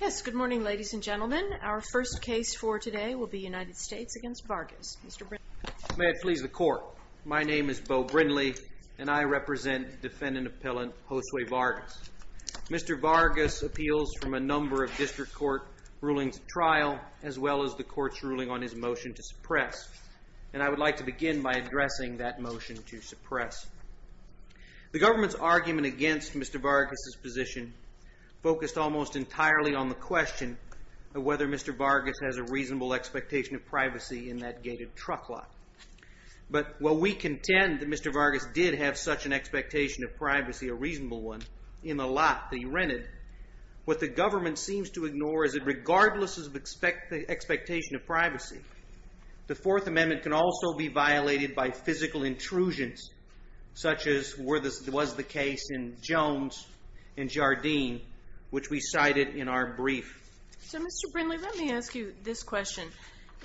Yes, good morning ladies and gentlemen. Our first case for today will be United States against Vargas, Mr. Brindley. May it please the court. My name is Beau Brindley and I represent defendant appellant Josue Vargas. Mr. Vargas appeals from a number of district court rulings at trial as well as the court's ruling on his motion to suppress. And I would like to begin by addressing that motion to suppress. The government's argument against Mr. Vargas' position focused almost entirely on the question of whether Mr. Vargas has a reasonable expectation of privacy in that gated truck lot. But while we contend that Mr. Vargas did have such an expectation of privacy, a reasonable one, in the lot that he rented, what the government seems to ignore is that regardless of the expectation of privacy, the Fourth Amendment can also be violated by physical intrusions, such as was the case in Jones and Jardine, which we cited in our brief. So Mr. Brindley, let me ask you this question.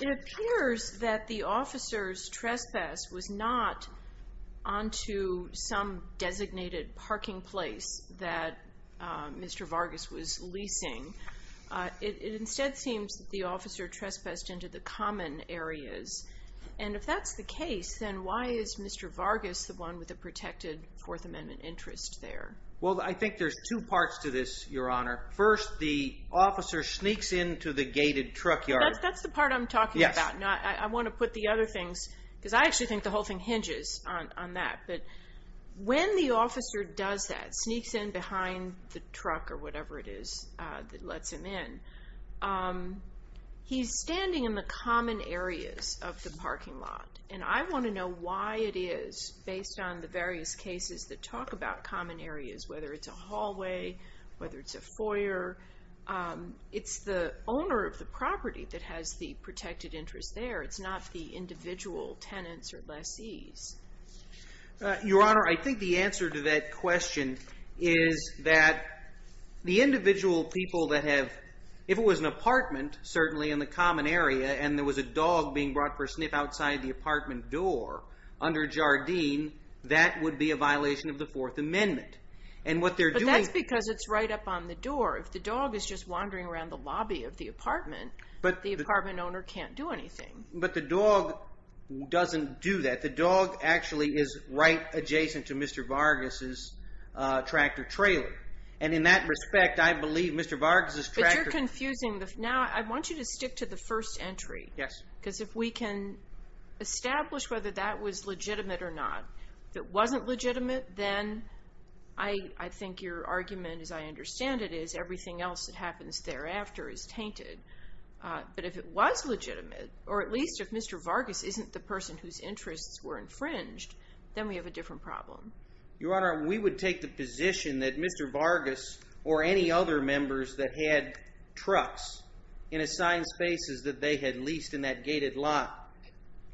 It appears that the officer's trespass was not onto some designated parking place that Mr. Vargas was leasing. It instead seems that the officer trespassed into the common areas. And if that's the case, then why is Mr. Vargas the one with a protected Fourth Amendment interest there? Well, I think there's two parts to this, Your Honor. First, the officer sneaks into the gated truck yard. That's the part I'm talking about. I want to put the other things, because I actually think the whole thing hinges on that. But when the officer does that, sneaks in behind the truck or whatever it is that lets him in, he's standing in the common areas of the parking lot. And I want to know why it is based on the various cases that talk about common areas, whether it's a hallway, whether it's a foyer. It's the owner of the property that has the protected interest there. It's not the individual tenants or lessees. Your Honor, I think the answer to that question is that the individual people that have, if it was an apartment, certainly in the common area, and there was a dog being brought for a sniff outside the apartment door under Jardine, that would be a violation of the Fourth Amendment. But that's because it's right up on the door. If the dog is just wandering around the lobby of the apartment, the apartment owner can't do anything. But the dog doesn't do that. The dog actually is right adjacent to Mr. Vargas' tractor trailer. And in that respect, I believe Mr. Vargas' tractor... But you're confusing the... Now, I want you to stick to the first entry. Yes. Because if we can establish whether that was legitimate or not. If it wasn't legitimate, then I think your argument, as I understand it, is everything else that happens thereafter is tainted. But if it was legitimate, or at least if Mr. Vargas isn't the person whose interests were infringed, then we have a different problem. Your Honor, we would take the position that Mr. Vargas or any other members that had trucks in assigned spaces that they had leased in that gated lot,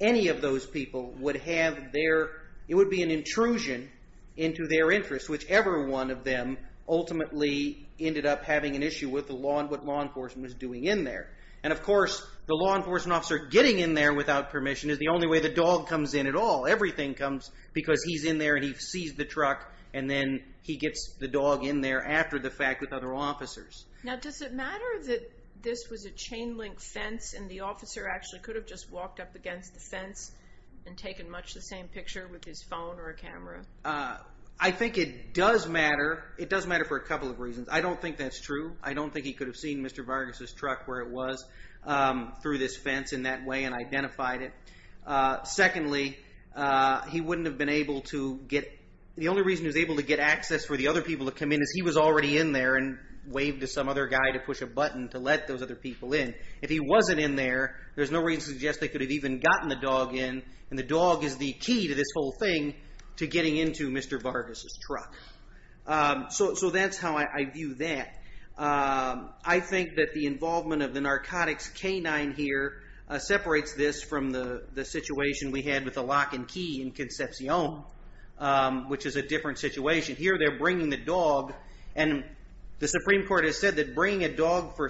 any of those people would have their... It would be an intrusion into their interests, whichever one of them ultimately ended up having an issue with what law enforcement was doing in there. And of course, the law enforcement officer getting in there without permission is the only way the dog comes in at all. Everything comes because he's in there and he sees the truck and then he gets the dog in there after the fact with other officers. Now, does it matter that this was a chain link fence and the officer actually could have just walked up against the fence and taken much the same picture with his phone or a camera? I think it does matter. It does matter for a couple of reasons. I don't think that's true. I don't think he could have seen Mr. Vargas' truck where it was through this fence in that way and identified it. Secondly, he wouldn't have been able to get... The only reason he was able to get access for the other people to come in is he was already in there and waved to some other guy to push a button to let those other people in. If he wasn't in there, there's no reason to suggest they could have even gotten the dog in. And the dog is the key to this whole thing to getting into Mr. Vargas' truck. So that's how I view that. I think that the involvement of the narcotics canine here separates this from the situation we had with the lock and key in Concepcion, which is a different situation. Here they're bringing the dog and the Supreme Court has said that bringing a dog for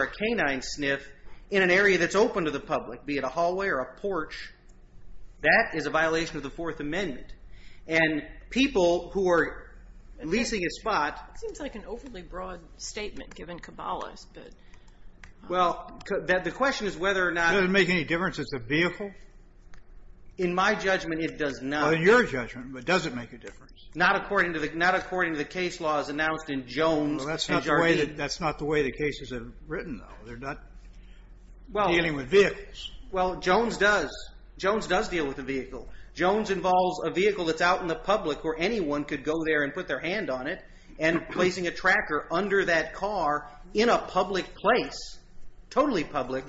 a canine sniff in an area that's open to the public, be it a hallway or a porch, that is a violation of the Fourth Amendment. And people who are leasing a spot... It seems like an overly broad statement given Cabalas, but... Well, the question is whether or not... Does it make any difference if it's a vehicle? In my judgment, it does not. Well, in your judgment, but does it make a difference? Not according to the case laws announced in Jones. That's not the way the cases are written, though. They're not dealing with vehicles. Well, Jones does. Jones does deal with a vehicle. Jones involves a vehicle that's out in the public where anyone could go there and put their hand on it and placing a tracker under that car in a public place, totally public.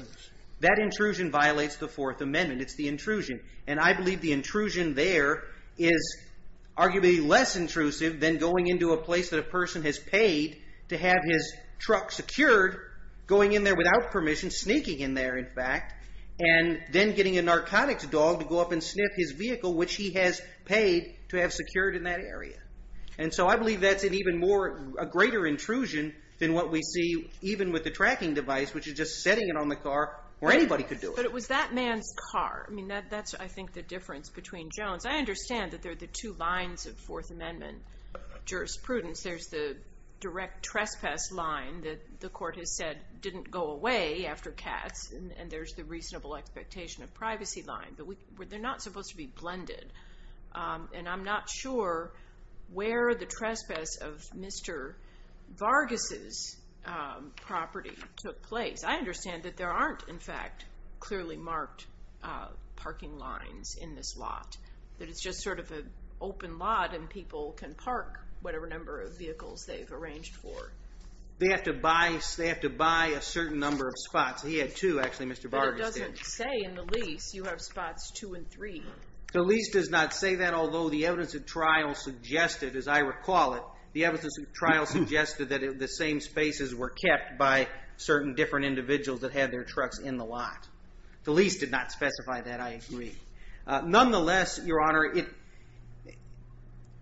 That intrusion violates the Fourth Amendment. It's the intrusion. And I believe the intrusion there is arguably less intrusive than going into a place that a person has paid to have his truck secured, going in there without permission, sneaking in there, in fact, and then getting a narcotics dog to go up and sniff his vehicle, which he has paid to have secured in that area. And so I believe that's an even greater intrusion than what we see even with the tracking device, which is just setting it on the car where anybody could do it. But it was that man's car. I mean, that's, I think, the difference between Jones. I understand that there are the two lines of Fourth Amendment jurisprudence. There's the direct trespass line that the court has said didn't go away after Katz, and there's the reasonable expectation of privacy line. But they're not supposed to be blended. And I'm not sure where the trespass of Mr. Vargas' property took place. I understand that there aren't, in fact, clearly marked parking lines in this lot, that it's just sort of an open lot, and people can park whatever number of vehicles they've arranged for. They have to buy a certain number of spots. He had two, actually, Mr. Vargas did. But it doesn't say in the lease you have spots two and three. The lease does not say that, although the evidence of trial suggested, as I recall it, the evidence of trial suggested that the same spaces were kept by certain different individuals that had their trucks in the lot. The lease did not specify that, I agree. Nonetheless, Your Honor,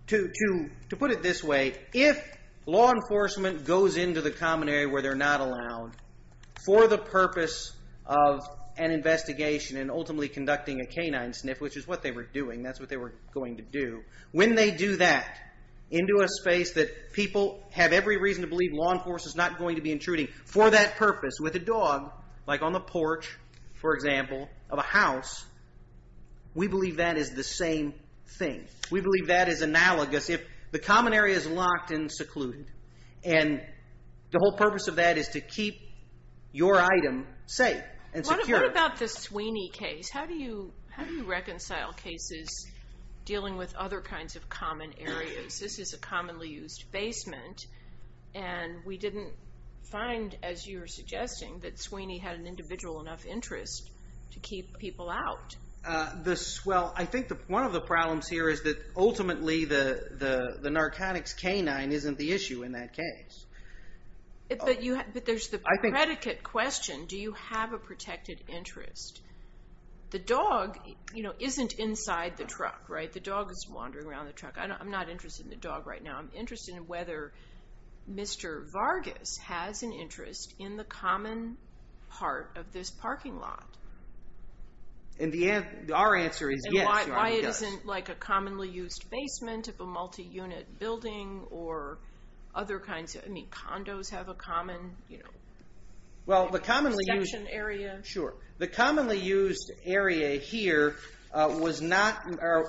to put it this way, if law enforcement goes into the common area where they're not allowed for the purpose of an investigation and ultimately conducting a canine sniff, which is what they were doing, that's what they were going to do, when they do that into a space that people have every reason to believe law enforcement is not going to be intruding for that purpose with a dog, like on the porch, for example, of a house, we believe that is the same thing. We believe that is analogous if the common area is locked and secluded, and the whole purpose of that is to keep your item safe and secure. What about the Sweeney case? How do you reconcile cases dealing with other kinds of common areas? This is a commonly used basement, and we didn't find, as you were suggesting, that Sweeney had an individual enough interest to keep people out. Well, I think one of the problems here is that ultimately the narcotics canine isn't the issue in that case. But there's the predicate question. Do you have a protected interest? The dog isn't inside the truck, right? The dog is wandering around the truck. I'm not interested in the dog right now. I'm interested in whether Mr. Vargas has an interest in the common part of this parking lot. And our answer is yes, he does. And why it isn't like a commonly used basement of a multi-unit building or other kinds of, I mean, condos have a common... Well, the commonly used area here was not,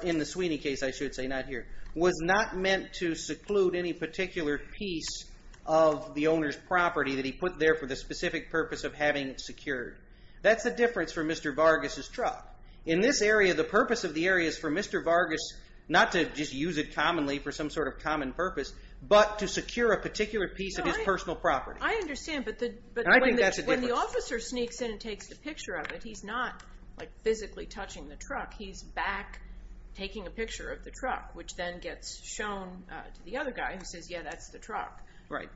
in the Sweeney case I should say, not here, was not meant to seclude any particular piece of the owner's property that he put there for the specific purpose of having it secured. That's the difference for Mr. Vargas's truck. In this area, the purpose of the area is for Mr. Vargas not to just use it commonly for some sort of common purpose, but to secure a particular piece of his personal property. I understand, but when the officer sneaks in and takes the picture of it, he's not physically touching the truck. He's back taking a picture of the truck, which then gets shown to the other guy who says, yeah, that's the truck. Right.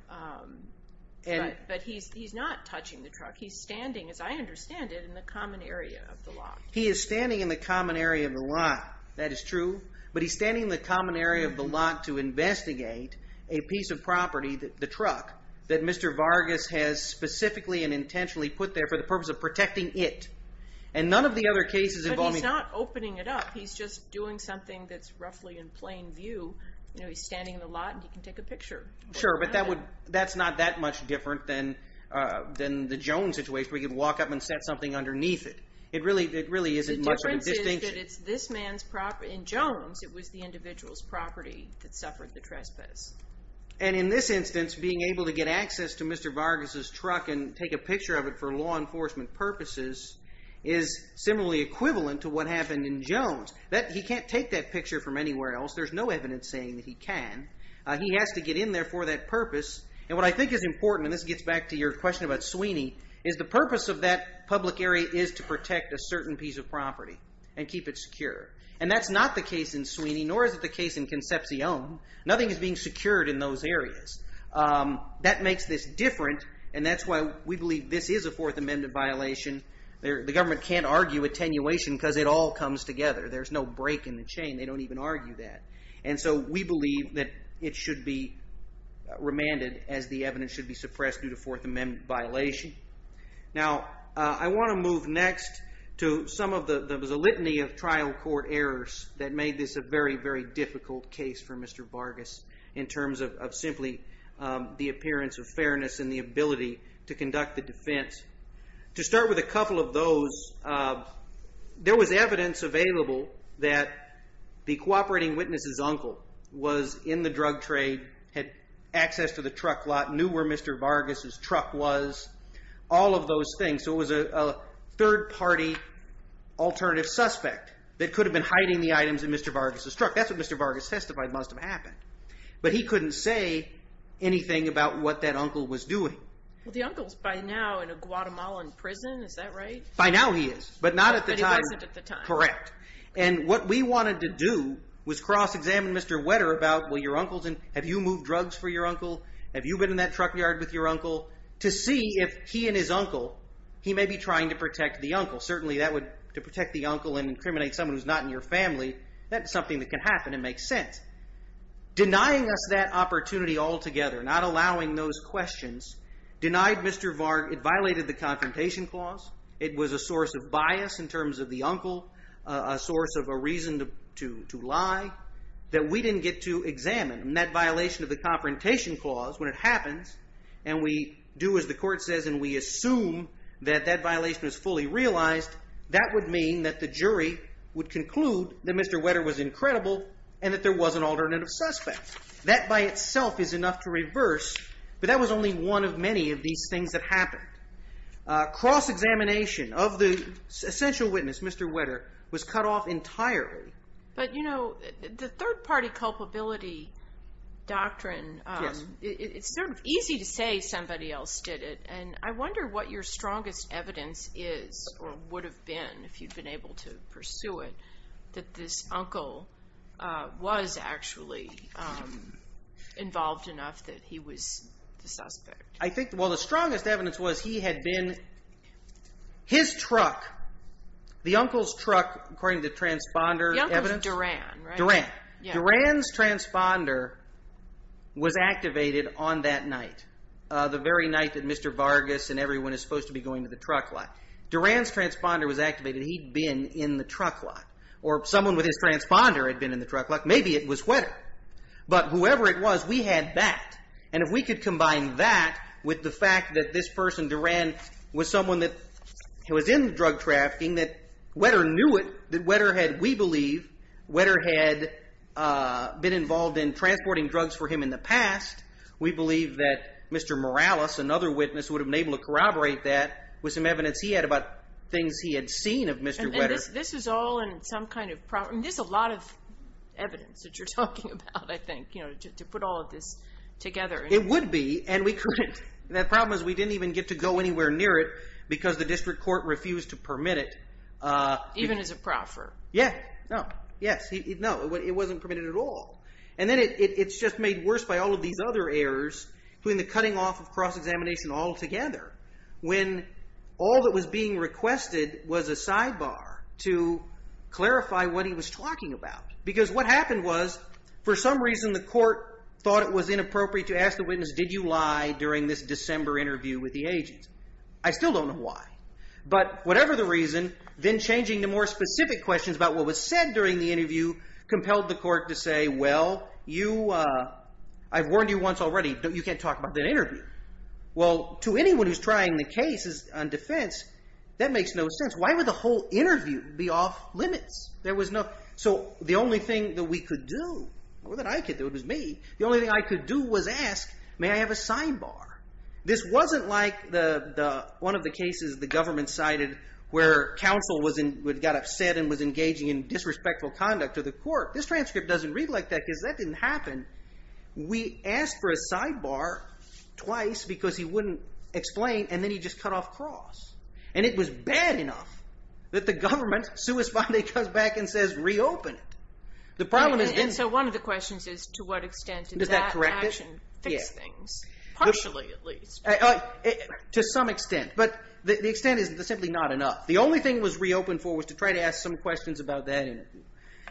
But he's not touching the truck. He's standing, as I understand it, in the common area of the lot. He is standing in the common area of the lot. That is true, but he's standing in the common area of the lot to investigate a piece of property, the truck, that Mr. Vargas has specifically and intentionally put there for the purpose of protecting it. And none of the other cases involving... But he's not opening it up. He's just doing something that's roughly in plain view. He's standing in the lot, and he can take a picture. Sure, but that's not that much different than the Jones situation where you can walk up and set something underneath it. It really isn't much of a distinction. The difference is that it's this man's property. In Jones, it was the individual's property that suffered the trespass. And in this instance, being able to get access to Mr. Vargas' truck and take a picture of it for law enforcement purposes is similarly equivalent to what happened in Jones. He can't take that picture from anywhere else. There's no evidence saying that he can. He has to get in there for that purpose. And what I think is important, and this gets back to your question about Sweeney, is the purpose of that public area is to protect a certain piece of property and keep it secure. And that's not the case in Sweeney, nor is it the case in Concepcion. Nothing is being secured in those areas. That makes this different, and that's why we believe this is a Fourth Amendment violation. The government can't argue attenuation because it all comes together. There's no break in the chain. They don't even argue that. And so we believe that it should be remanded as the evidence should be suppressed due to Fourth Amendment violation. Now, I want to move next to some of the... There was a litany of trial court errors that made this a very, very difficult case for Mr. Vargas in terms of simply the appearance of fairness and the ability to conduct the defense. To start with a couple of those, there was evidence available that the cooperating witness's uncle was in the drug trade, had access to the truck lot, knew where Mr. Vargas's truck was, all of those things. So it was a third-party alternative suspect that could have been hiding the items in Mr. Vargas's truck. That's what Mr. Vargas testified must have happened. But he couldn't say anything about what that uncle was doing. Well, the uncle's by now in a Guatemalan prison, is that right? By now he is, but not at the time. But he wasn't at the time. Correct. And what we wanted to do was cross-examine Mr. Wetter about, well, your uncle's in... Have you moved drugs for your uncle? Have you been in that truck yard with your uncle? To see if he and his uncle, he may be trying to protect the uncle. Certainly, to protect the uncle and incriminate someone who's not in your family, that's something that can happen. It makes sense. Denying us that opportunity altogether, not allowing those questions, denied Mr. Vargas... It violated the Confrontation Clause. It was a source of bias in terms of the uncle, a source of a reason to lie, that we didn't get to examine. And that violation of the Confrontation Clause, when it happens, and we do as the court says, and we assume that that violation was fully realized, that would mean that the jury would conclude that Mr. Wetter was incredible and that there was an alternative suspect. That by itself is enough to reverse, but that was only one of many of these things that happened. Cross-examination of the essential witness, Mr. Wetter, was cut off entirely. But, you know, the third-party culpability doctrine... Yes. It's sort of easy to say somebody else did it, and I wonder what your strongest evidence is, or would have been if you'd been able to pursue it, that this uncle was actually involved enough that he was the suspect. Well, the strongest evidence was he had been... His truck, the uncle's truck, according to the transponder evidence... The uncle's Duran, right? Duran. Duran's transponder was activated on that night, the very night that Mr. Vargas and everyone is supposed to be going to the truck lot. Duran's transponder was activated. He'd been in the truck lot. Or someone with his transponder had been in the truck lot. Maybe it was Wetter. But whoever it was, we had that. And if we could combine that with the fact that this person, Duran, was someone that was in drug trafficking, that Wetter knew it, that Wetter had, we believe, Wetter had been involved in transporting drugs for him in the past, we believe that Mr. Morales, another witness, would have been able to corroborate that with some evidence he had about things he had seen of Mr. Wetter. And this is all in some kind of... There's a lot of evidence that you're talking about, I think, to put all of this together. It would be, and we couldn't. The problem is we didn't even get to go anywhere near it because the district court refused to permit it. Even as a proffer. Yeah, no, yes. No, it wasn't permitted at all. And then it's just made worse by all of these other errors between the cutting off of cross-examination altogether when all that was being requested was a sidebar to clarify what he was talking about. Because what happened was, for some reason, the court thought it was inappropriate to ask the witness, did you lie during this December interview with the agent? I still don't know why. But whatever the reason, then changing to more specific questions about what was said during the interview compelled the court to say, well, I've warned you once already, you can't talk about that interview. Well, to anyone who's trying the case on defence, that makes no sense. Why would the whole interview be off-limits? So the only thing that we could do, or that I could do, it was me, the only thing I could do was ask, may I have a sidebar? This wasn't like one of the cases the government cited where counsel got upset and was engaging in disrespectful conduct to the court. This transcript doesn't read like that, because that didn't happen. We asked for a sidebar twice, because he wouldn't explain, and then he just cut off cross. And it was bad enough that the government, sui sponde, comes back and says reopen it. And so one of the questions is, to what extent did that action fix things? Partially, at least. To some extent, but the extent is simply not enough. The only thing it was reopened for was to try to ask some questions about that interview.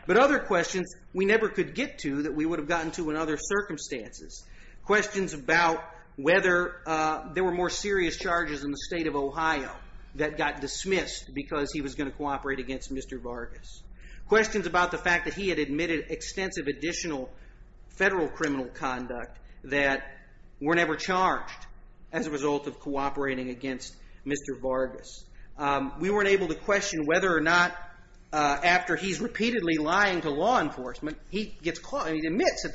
But other questions we never could get to that we would have gotten to in other circumstances. Questions about whether there were more serious charges in the state of Ohio that got dismissed because he was going to cooperate against Mr. Vargas. Questions about the fact that he had admitted extensive additional federal criminal conduct that were never charged as a result of cooperating against Mr. Vargas. We weren't able to question whether or not after he's repeatedly lying to law enforcement, he admits in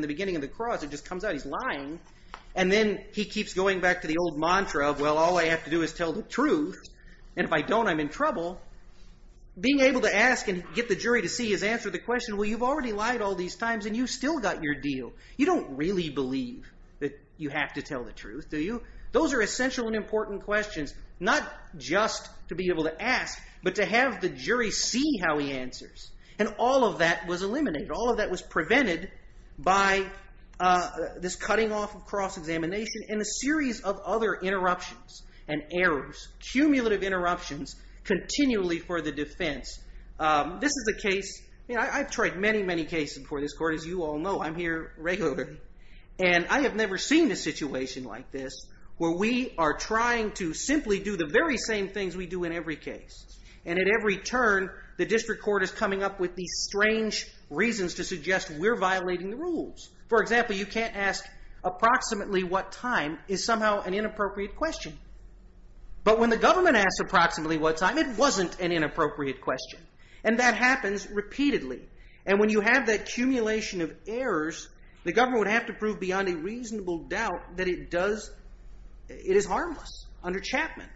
the beginning of the cross, it just comes out he's lying, and then he keeps going back to the old mantra of, well, all I have to do is tell the truth, and if I don't, I'm in trouble. Being able to ask and get the jury to see his answer to the question, well, you've already lied all these times, and you've still got your deal. You don't really believe that you have to tell the truth, do you? Those are essential and important questions, not just to be able to ask, but to have the jury see how he answers. And all of that was eliminated. All of that was prevented by this cutting off of cross-examination and a series of other interruptions and errors, cumulative interruptions, continually for the defense. This is a case... I've tried many, many cases before this court. As you all know, I'm here regularly. And I have never seen a situation like this where we are trying to simply do the very same things we do in every case. And at every turn, the district court is coming up with these strange reasons to suggest we're violating the rules. For example, you can't ask, approximately what time is somehow an inappropriate question. But when the government asks approximately what time, it wasn't an inappropriate question. And that happens repeatedly. And when you have that accumulation of errors, the government would have to prove beyond a reasonable doubt that it is harmless under Chapman.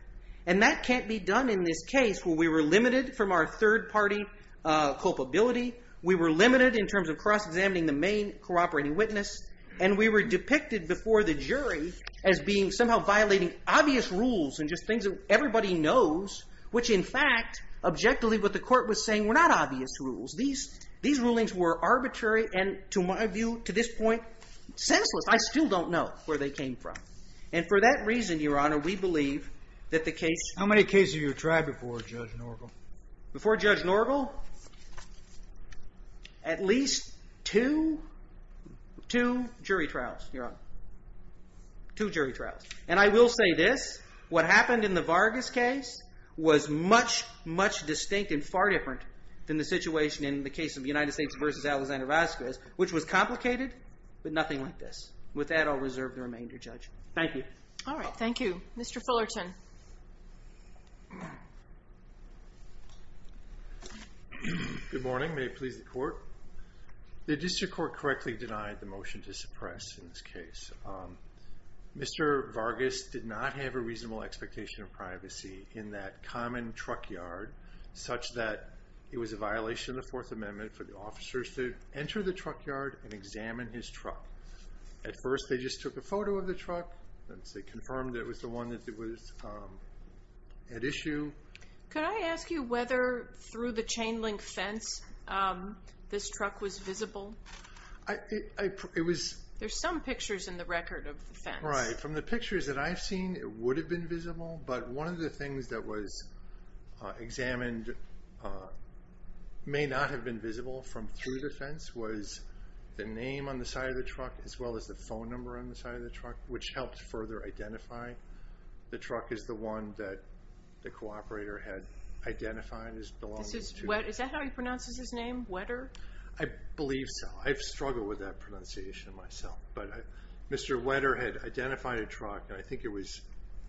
And that can't be done in this case where we were limited from our third-party culpability, we were limited in terms of cross-examining the main cooperating witness, and we were depicted before the jury as being somehow violating obvious rules and just things that everybody knows, which in fact, objectively, what the court was saying were not obvious rules. These rulings were arbitrary and, to my view, to this point, senseless. I still don't know where they came from. And for that reason, Your Honor, we believe that the case... How many cases have you tried before Judge Norgal? Before Judge Norgal? At least two jury trials, Your Honor. Two jury trials. And I will say this. What happened in the Vargas case was much, much distinct and far different than the situation in the case of United States v. Alexander Vasquez, which was complicated, but nothing like this. With that, I'll reserve the remainder, Judge. Thank you. All right, thank you. Mr. Fullerton. Good morning. May it please the Court? The district court correctly denied the motion to suppress in this case. Mr. Vargas did not have a reasonable expectation of privacy in that common truck yard such that it was a violation of the Fourth Amendment for the officers to enter the truck yard and examine his truck. At first, they just took a photo of the truck. They confirmed that it was the one that was at issue. Could I ask you whether, through the chain-link fence, this truck was visible? There's some pictures in the record of the fence. Right. From the pictures that I've seen, it would have been visible, but one of the things that was examined may not have been visible from through the fence was the name on the side of the truck as well as the phone number on the side of the truck, which helped further identify the truck as the one that the cooperator had identified as belonging to. Is that how he pronounces his name, Wetter? I believe so. I've struggled with that pronunciation myself, but Mr. Wetter had identified a truck, and I think it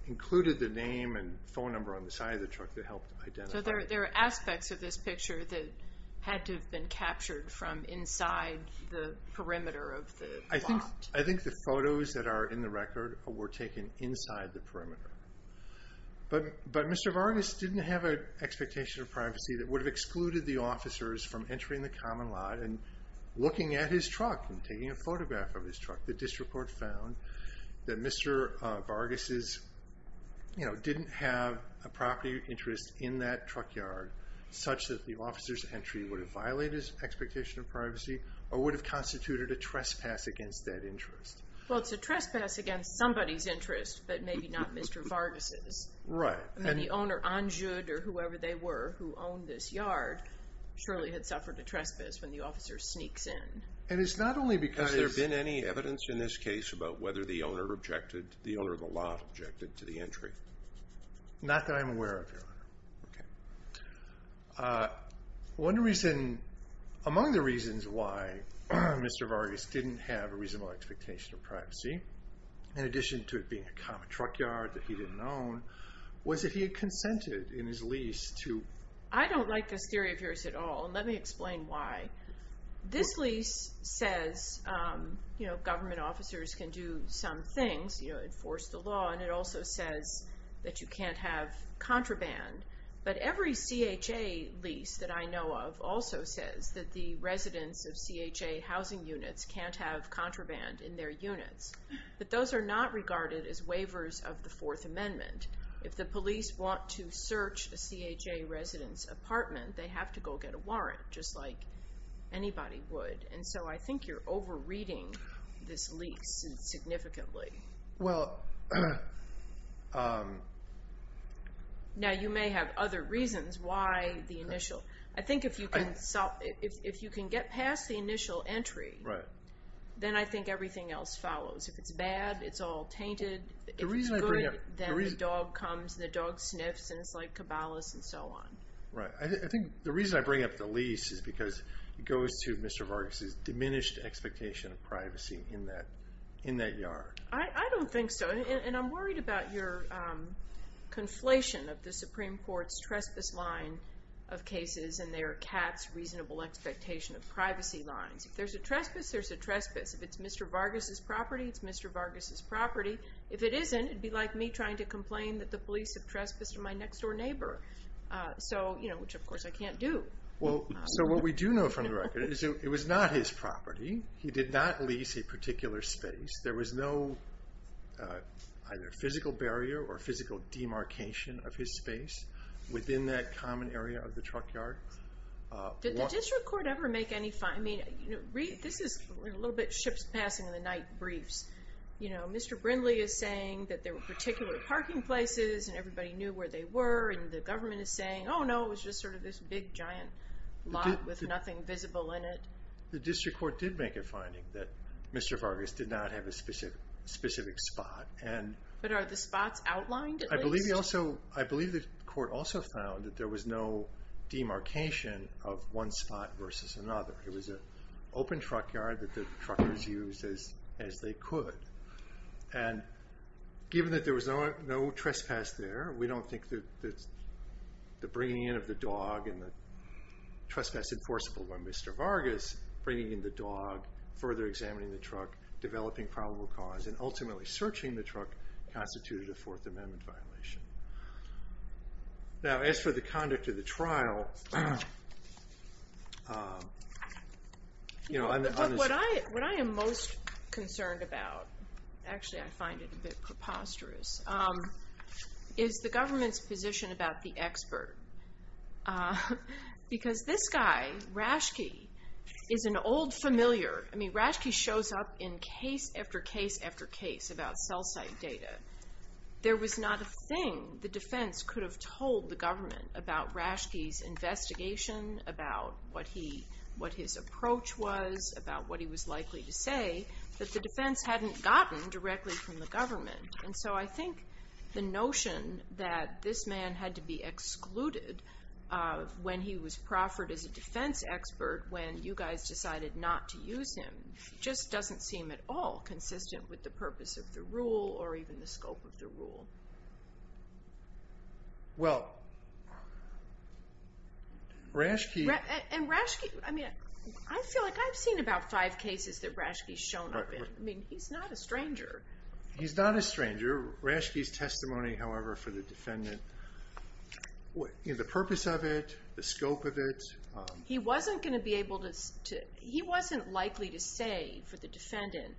included the name and phone number on the side of the truck that helped identify it. So there are aspects of this picture that had to have been captured from inside the perimeter of the lot. I think the photos that are in the record were taken inside the perimeter. But Mr. Vargas didn't have an expectation of privacy that would have excluded the officers from entering the common lot and looking at his truck and taking a photograph of his truck. The district court found that Mr. Vargas didn't have a property interest in that truck yard such that the officer's entry would have violated his expectation of privacy or would have constituted a trespass against that interest. Well, it's a trespass against somebody's interest, but maybe not Mr. Vargas'. Right. And the owner, Anjud, or whoever they were who owned this yard, surely had suffered a trespass when the officer sneaks in. And it's not only because... Has there been any evidence in this case about whether the owner objected, the owner of the lot objected to the entry? Not that I'm aware of, Your Honor. Okay. One reason, among the reasons why Mr. Vargas didn't have a reasonable expectation of privacy, in addition to it being a common truck yard that he didn't own, was that he had consented in his lease to... I don't like this theory of yours at all, and let me explain why. This lease says government officers can do some things, enforce the law, and it also says that you can't have contraband. But every CHA lease that I know of also says that the residents of CHA housing units can't have contraband in their units. But those are not regarded as waivers of the Fourth Amendment. If the police want to search a CHA resident's apartment, they have to go get a warrant, just like anybody would. And so I think you're over-reading this lease significantly. Well... Now, you may have other reasons why the initial... I think if you can get past the initial entry, then I think everything else follows. If it's bad, it's all tainted. If it's good, then the dog comes, the dog sniffs, and it's like Cabalas and so on. Right. I think the reason I bring up the lease is because it goes to Mr. Vargas' diminished expectation of privacy in that yard. I don't think so, and I'm worried about your conflation of the Supreme Court's trespass line of cases and their CAT's reasonable expectation of privacy lines. If there's a trespass, there's a trespass. If it's Mr. Vargas' property, it's Mr. Vargas' property. If it isn't, it'd be like me trying to complain that the police have trespassed on my next-door neighbor. Which, of course, I can't do. So what we do know from the record is it was not his property. He did not lease a particular space. There was no either physical barrier or physical demarcation of his space within that common area of the truck yard. Did the district court ever make any... This is a little bit ship's passing in the night briefs. Mr. Brindley is saying that there were particular parking places and everybody knew where they were, and the government is saying, oh, no, it was just sort of this big, giant lot with nothing visible in it. The district court did make a finding that Mr. Vargas did not have a specific spot. But are the spots outlined at least? I believe the court also found that there was no demarcation of one spot versus another. It was an open truck yard that the truckers used as they could. And given that there was no trespass there, we don't think that the bringing in of the dog and the trespass enforceable by Mr. Vargas, bringing in the dog, further examining the truck, developing probable cause, and ultimately searching the truck constituted a Fourth Amendment violation. Now, as for the conduct of the trial... What I am most concerned about, actually I find it a bit preposterous, is the government's position about the expert. Because this guy, Rashke, is an old familiar. I mean, Rashke shows up in case after case after case about cell site data. There was not a thing the defense could have told the government about Rashke's investigation, about what his approach was, about what he was likely to say, that the defense hadn't gotten directly from the government. And so I think the notion that this man had to be excluded when he was proffered as a defense expert, when you guys decided not to use him, just doesn't seem at all consistent with the purpose of the rule or even the scope of the rule. Well, Rashke... And Rashke, I mean, I feel like I've seen about five cases that Rashke's shown up in. I mean, he's not a stranger. He's not a stranger. Rashke's testimony, however, for the defendant, the purpose of it, the scope of it... He wasn't going to be able to... He wasn't likely to say for the defendant,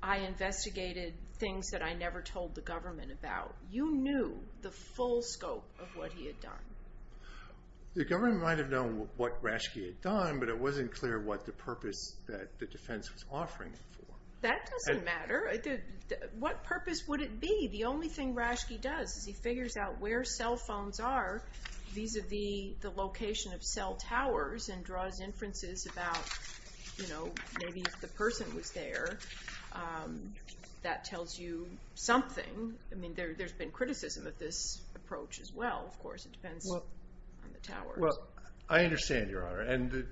I investigated things that I never told the government about. You knew the full scope of what he had done. The government might have known what Rashke had done, but it wasn't clear what the purpose that the defense was offering him for. That doesn't matter. What purpose would it be? The only thing Rashke does is he figures out where cell phones are vis-à-vis the location of cell towers and draws inferences about, you know, maybe if the person was there, that tells you something. I mean, there's been criticism of this approach as well, of course. It depends on the towers. Well, I understand, Your Honor, and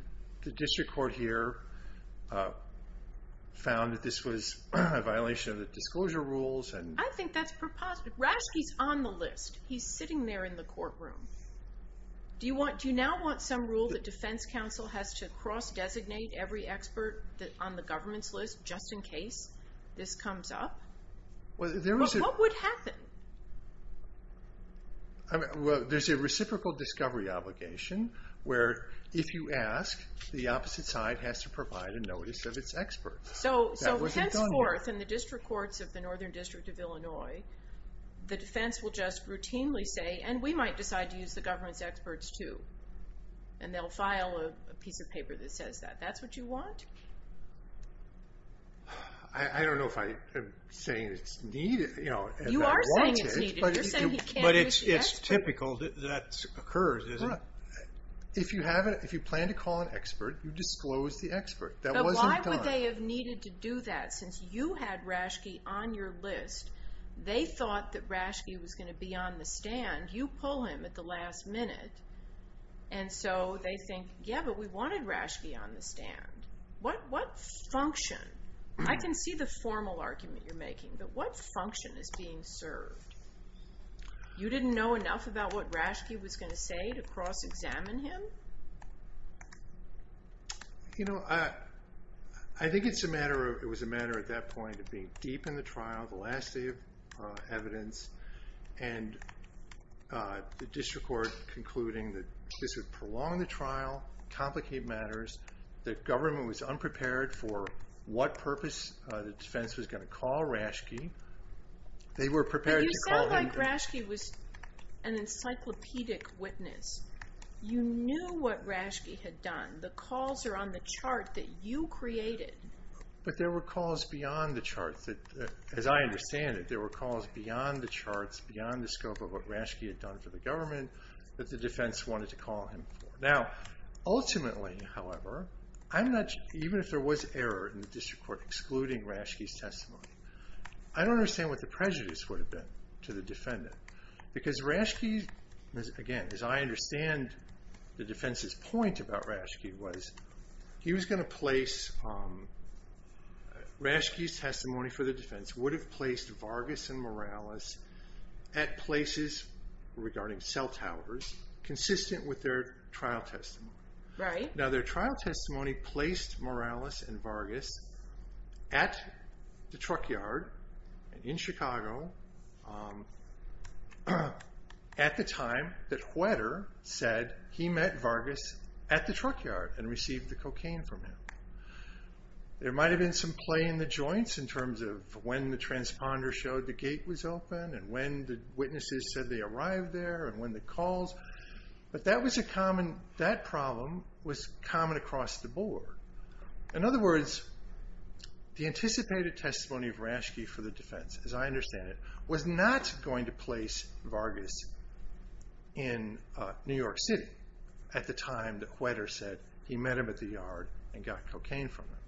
the district court here found that this was a violation of the disclosure rules and... I think that's preposterous. Rashke's on the list. He's sitting there in the courtroom. Do you now want some rule that defense counsel has to cross-designate every expert on the government's list just in case this comes up? What would happen? There's a reciprocal discovery obligation where if you ask, the opposite side has to provide a notice of its experts. So henceforth, in the district courts of the Northern District of Illinois, the defense will just routinely say, and we might decide to use the government's experts too, and they'll file a piece of paper that says that. That's what you want? I don't know if I'm saying it's needed. You are saying it's needed. You're saying he can't use the experts. But it's typical that that occurs, isn't it? If you plan to call an expert, you disclose the expert. But why would they have needed to do that? Since you had Rashke on your list, they thought that Rashke was going to be on the stand. You pull him at the last minute, and so they think, yeah, but we wanted Rashke on the stand. What function? I can see the formal argument you're making, but what function is being served? You didn't know enough about what Rashke was going to say to cross-examine him? You know, I think it was a matter at that point of being deep in the trial, the last day of evidence, and the district court concluding that this would prolong the trial, complicate matters, that government was unprepared for what purpose the defense was going to call Rashke. They were prepared to call him... But you sound like Rashke was an encyclopedic witness. You knew what Rashke had done. The calls are on the chart that you created. But there were calls beyond the charts. As I understand it, there were calls beyond the charts, beyond the scope of what Rashke had done for the government that the defense wanted to call him for. Now, ultimately, however, even if there was error in the district court excluding Rashke's testimony, I don't understand what the prejudice would have been to the defendant. Because Rashke, again, as I understand the defense's point about Rashke was he was going to place... Rashke's testimony for the defense would have placed Vargas and Morales at places regarding cell towers consistent with their trial testimony. Now, their trial testimony placed Morales and Vargas at the truck yard in Chicago at the time that Hueter said he met Vargas at the truck yard and received the cocaine from him. There might have been some play in the joints in terms of when the transponder showed the gate was open and when the witnesses said they arrived there and when the calls... But that problem was common across the board. In other words, the anticipated testimony of Rashke for the defense, as I understand it, was not going to place Vargas in New York City at the time that Hueter said he met him at the yard and got cocaine from him.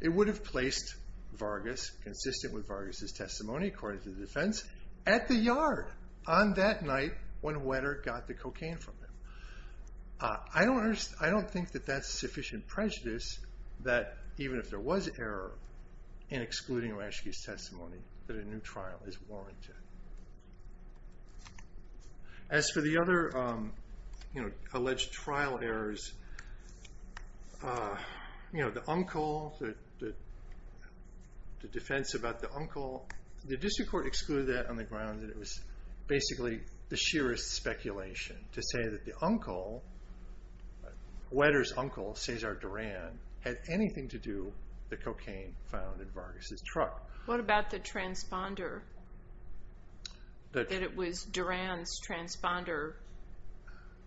It would have placed Vargas, consistent with Vargas' testimony according to the defense, at the yard on that night when Hueter got the cocaine from him. I don't think that that's sufficient prejudice that even if there was error in excluding Rashke's testimony that a new trial is warranted. As for the other alleged trial errors, the uncle, the defense about the uncle, the district court excluded that on the ground that it was basically the sheerest speculation to say that the uncle, Hueter's uncle, Cesar Duran, had anything to do with the cocaine found in Vargas' truck. What about the transponder? That it was Duran's transponder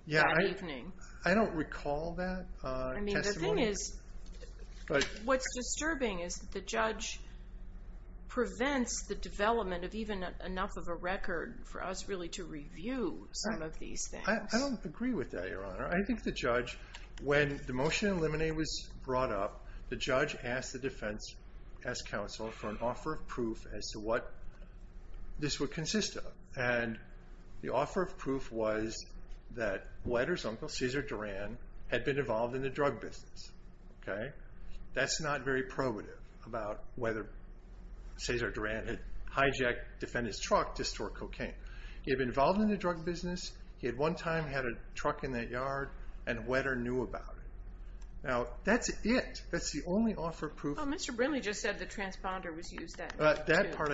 that evening? I don't recall that testimony. What's disturbing is that the judge prevents the development of even enough of a record for us really to review some of these things. I don't agree with that, Your Honor. I think the judge, when the motion to eliminate was brought up, the judge asked the defense, asked counsel for an offer of proof as to what this would consist of. The offer of proof was that Hueter's uncle, Cesar Duran, had been involved in the drug business. That's not very probative about whether Cesar Duran had hijacked defendant's truck to store cocaine. He had been involved in the drug business. He had one time had a truck in that yard and Hueter knew about it. That's it. That's the only offer of proof. Mr. Brinley just said the transponder was used that night. That part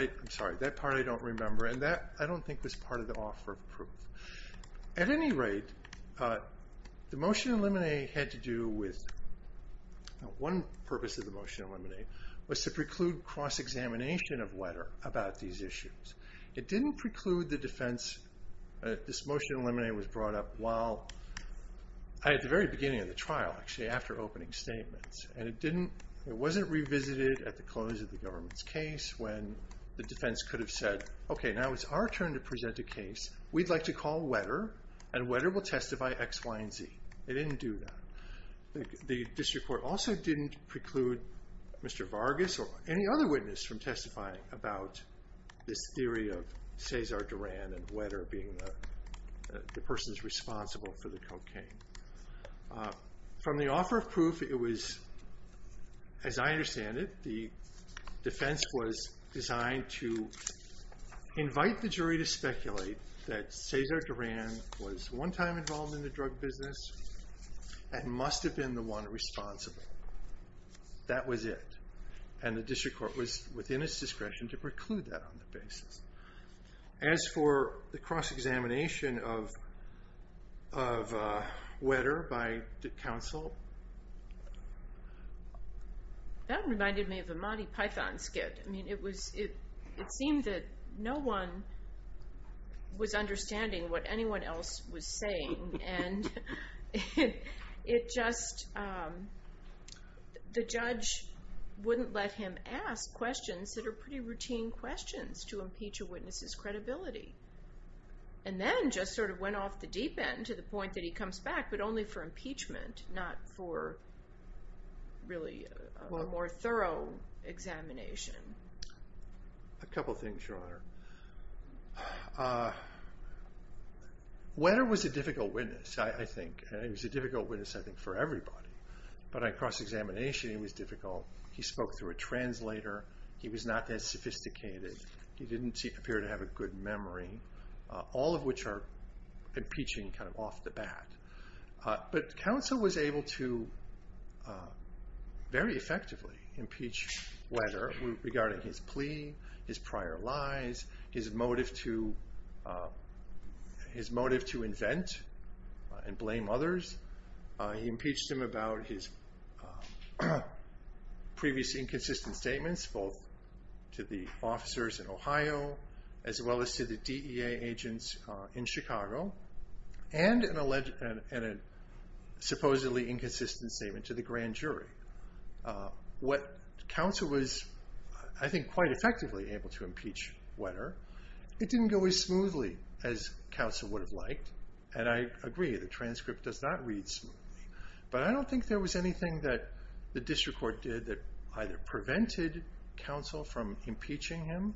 I don't remember. I don't think that was part of the offer of proof. At any rate, the motion to eliminate One purpose of the motion to eliminate was to preclude cross-examination of Hueter about these issues. It didn't preclude the defense This motion to eliminate was brought up at the very beginning of the trial, actually after opening statements. It wasn't revisited at the close of the government's case when the defense could have said okay, now it's our turn to present a case. We'd like to call Hueter and Hueter will testify X, Y, and Z. It didn't do that. The district court also didn't preclude Mr. Vargas or any other witness from testifying about this theory of Cesar Duran and Hueter being the person responsible for the cocaine. From the offer of proof, it was as I understand it, the defense was designed to invite the jury to speculate that Cesar Duran was one time involved in the drug business and must have been the one responsible. That was it. And the district court was within its discretion to preclude that on the basis. As for the cross-examination of Hueter by counsel That reminded me of a Monty Python skit. It seemed that no one was understanding what anyone else was saying and it just the judge wouldn't let him ask questions that are pretty routine questions to impeach a witness's credibility. And then just sort of went off the deep end to the point that he comes back, but only for impeachment not for really a more thorough examination. A couple things, Your Honor. Hueter was a difficult witness I think. And he was a difficult witness I think for everybody. But on cross-examination he was difficult. He spoke through a translator. He was not that sophisticated. He didn't appear to have a good memory. All of which are impeaching kind of off the bat. But counsel was able to very effectively impeach Hueter regarding his plea, his prior lies his motive to invent and blame others. He impeached him about his previous inconsistent statements both to the officers in Ohio as well as to the DEA agents in Chicago and an alleged and a supposedly inconsistent statement to the grand jury. What counsel was I think quite effectively able to impeach Hueter, it didn't go as smoothly as counsel would have liked. And I agree the transcript does not read smoothly. But I don't think there was anything that the district court did that either prevented counsel from impeaching him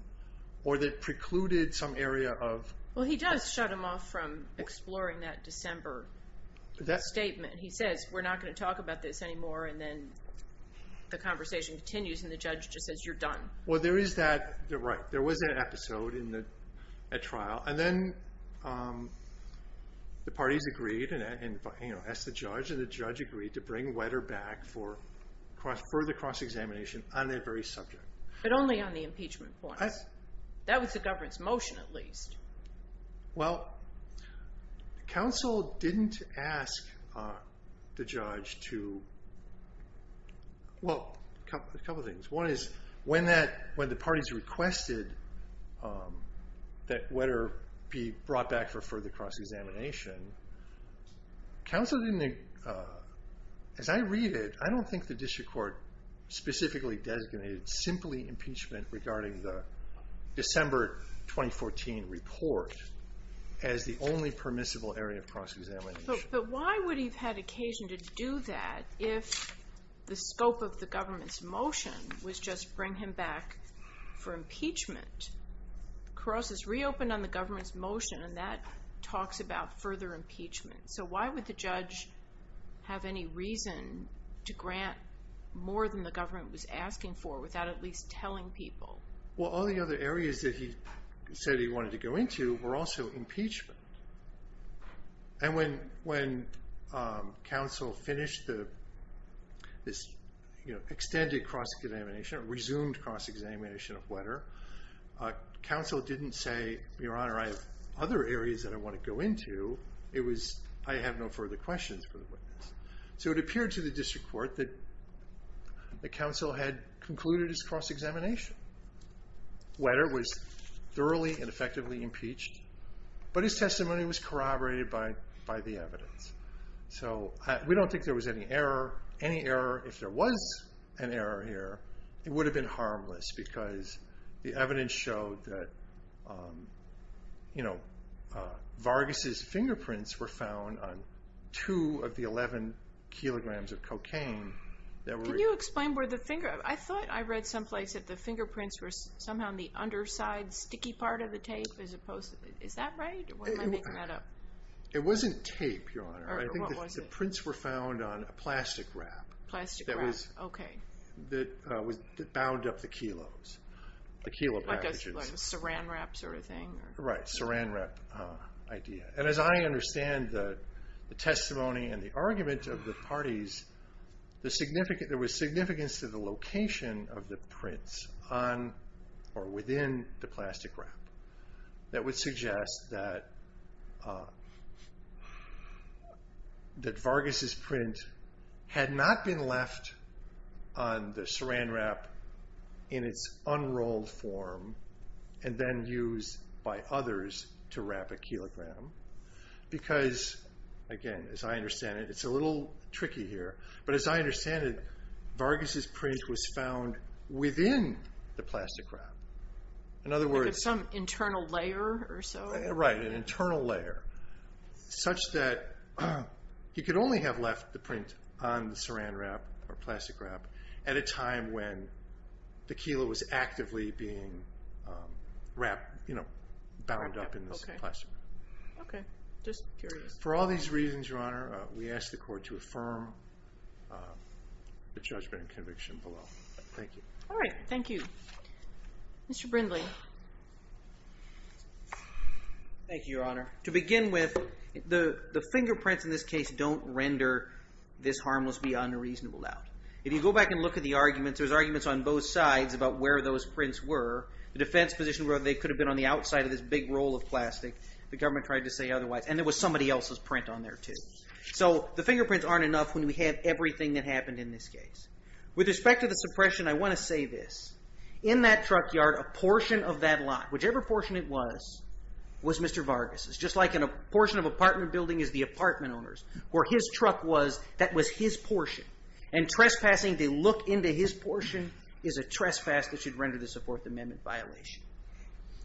or that precluded some area of Well he does shut him off from exploring that December statement. He says we're not going to talk about this anymore and then the conversation continues and the judge just says you're done. Well there is that there was an episode in the trial and then the parties agreed and asked the judge and the judge agreed to bring Hueter back for further cross-examination on that very subject. But only on the impeachment point. That was the government's motion at least. Well counsel didn't ask the judge to well a couple things. One is when the parties requested that Hueter be brought back for further cross-examination counsel didn't, as I read it I don't think the district court specifically designated simply impeachment regarding the December 2014 report as the only permissible area of cross-examination. But why would he have had occasion to do that if the scope of the government's motion was just bring him back for impeachment? Cross has reopened on the government's motion and that talks about further impeachment. So why would the judge have any reason to grant more than the government was asking for without at least telling people? Well all the other areas that he said he wanted to go into were also impeachment. And when counsel finished this extended cross-examination, resumed cross-examination of Hueter, counsel didn't say your honor I have other areas that I want to go into it was I have no further questions for the witness. So it appeared to the district court that counsel had concluded his cross-examination Hueter was thoroughly and effectively impeached, but his testimony was corroborated by the evidence. So we don't think there was any error. Any error, if there was an error here, it would have been harmless because the evidence showed that Vargas's fingerprints were found on two of the 11 kilograms of cocaine. Can you explain where the finger, I thought I read some place that the fingerprints were somehow in the underside sticky part of the tape as opposed to, is that right? It wasn't tape, your honor. The prints were found on a plastic wrap. Plastic wrap, okay. That bound up the kilos. The kilo packages. Like a saran wrap sort of thing? Right, saran wrap idea. And as I understand the testimony and the argument of the parties, there was significance to the location of the prints on or within the plastic wrap. That would suggest that Vargas's print had not been left on the saran wrap in its unrolled form and then used by others to wrap a kilogram. Because again, as I understand it, it's a little tricky here, but as I understand it, Vargas's print was found within the plastic wrap. In other words... Like some internal layer or so? Right, an internal layer. Such that he could only have left the print on the saran wrap or plastic wrap at a time when the kilo was actively being bound up in the plastic wrap. Okay, just curious. For all these reasons, your honor, we ask the court to affirm the judgment and conviction below. Thank you. Alright, thank you. Mr. Brindley. Thank you, your honor. To begin with, the fingerprints in this case don't render this harmless beyond a reasonable doubt. If you go back and look at the arguments, there's arguments on both sides about where those prints were. The defense position where they could have been on the outside of this big roll of plastic. The government tried to say otherwise. And there was somebody else's print on there too. So, the fingerprints aren't enough when we have everything that happened in this case. With respect to the suppression, I want to say this. In that truck yard, a portion of that lot, whichever portion it was, was Mr. Vargas's. Just like a portion of an apartment building is the portion. And trespassing to look into his portion is a trespass that should render this a Fourth Amendment violation.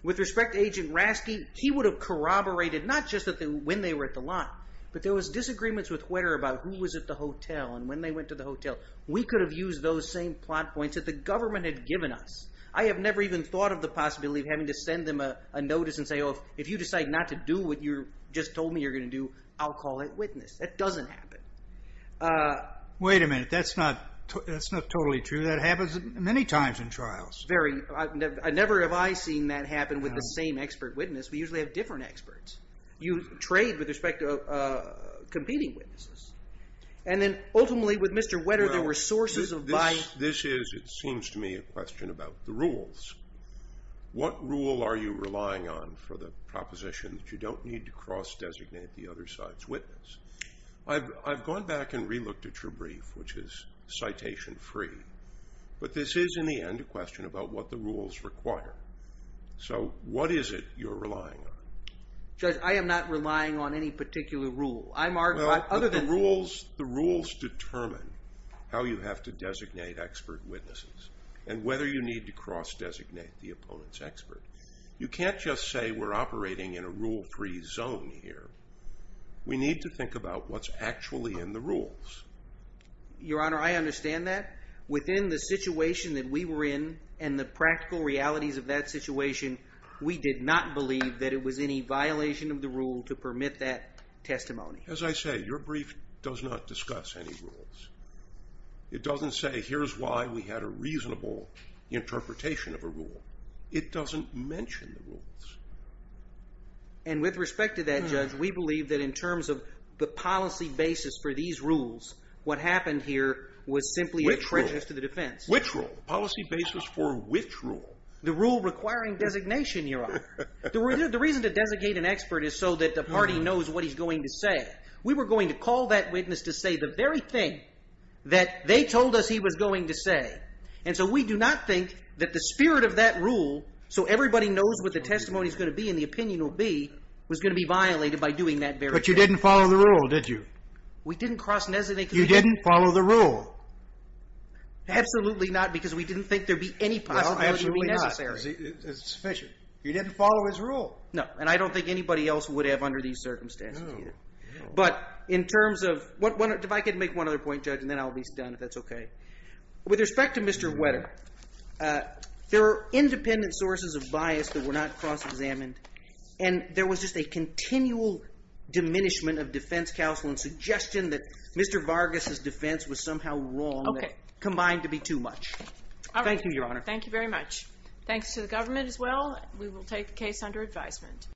With respect to Agent Rasky, he would have corroborated not just when they were at the lot, but there was disagreements with Huerta about who was at the hotel and when they went to the hotel. We could have used those same plot points that the government had given us. I have never even thought of the possibility of having to send them a notice and say, oh, if you decide not to do what you just told me you're going to do, I'll call that witness. That doesn't happen. Wait a minute. That's not totally true. That happens many times in trials. Very. Never have I seen that happen with the same expert witness. We usually have different experts. You trade with respect to competing witnesses. And then, ultimately, with Mr. Huerta, there were sources of bias. This is, it seems to me, a question about the rules. What rule are you relying on for the proposition that you don't need to cross-designate the other side's witness? I've gone back and re-looked at your brief, which is citation-free, but this is, in the end, a question about what the rules require. So, what is it you're relying on? Judge, I am not relying on any particular rule. Well, the rules determine how you have to designate expert witnesses and whether you need to cross-designate the opponent's expert. You can't just say we're operating in a rule-free zone here. We need to think about what's actually in the rules. Your Honor, I understand that. Within the situation that we were in and the practical realities of that situation, we did not believe that it was any violation of the rule to permit that testimony. As I say, your brief does not discuss any rules. It doesn't say, here's why we had a reasonable interpretation of a rule. It doesn't mention the rules. And with respect to that, Judge, we believe that in terms of the policy basis for these rules, what happened here was simply a treacherous to the defense. Which rule? The policy basis for which rule? The rule requiring designation, your Honor. The reason to designate an expert is so that the party knows what he's going to say. We were going to call that witness to say the very thing that they told us he was going to say. And so we do not think that the spirit of that rule, so everybody knows what the testimony's going to be and the opinion will be, was going to be violated by doing that very thing. But you didn't follow the rule, did you? We didn't cross-designate. You didn't follow the rule? Absolutely not, because we didn't think there'd be any possibility to be necessary. Well, absolutely not, because it's sufficient. You didn't follow his rule. No, and I don't think anybody else would have under these circumstances either. But in terms of, if I could make one other point, Judge, and then I'll be done if that's okay. With respect to Mr. Wetter, there are independent sources of bias that were not cross-examined, and there was just a continual diminishment of defense counsel and suggestion that Mr. Vargas' defense was somehow wrong that combined to be too much. Thank you, Your Honor. Thank you very much. Thanks to the government as well. We will take the case under advisement.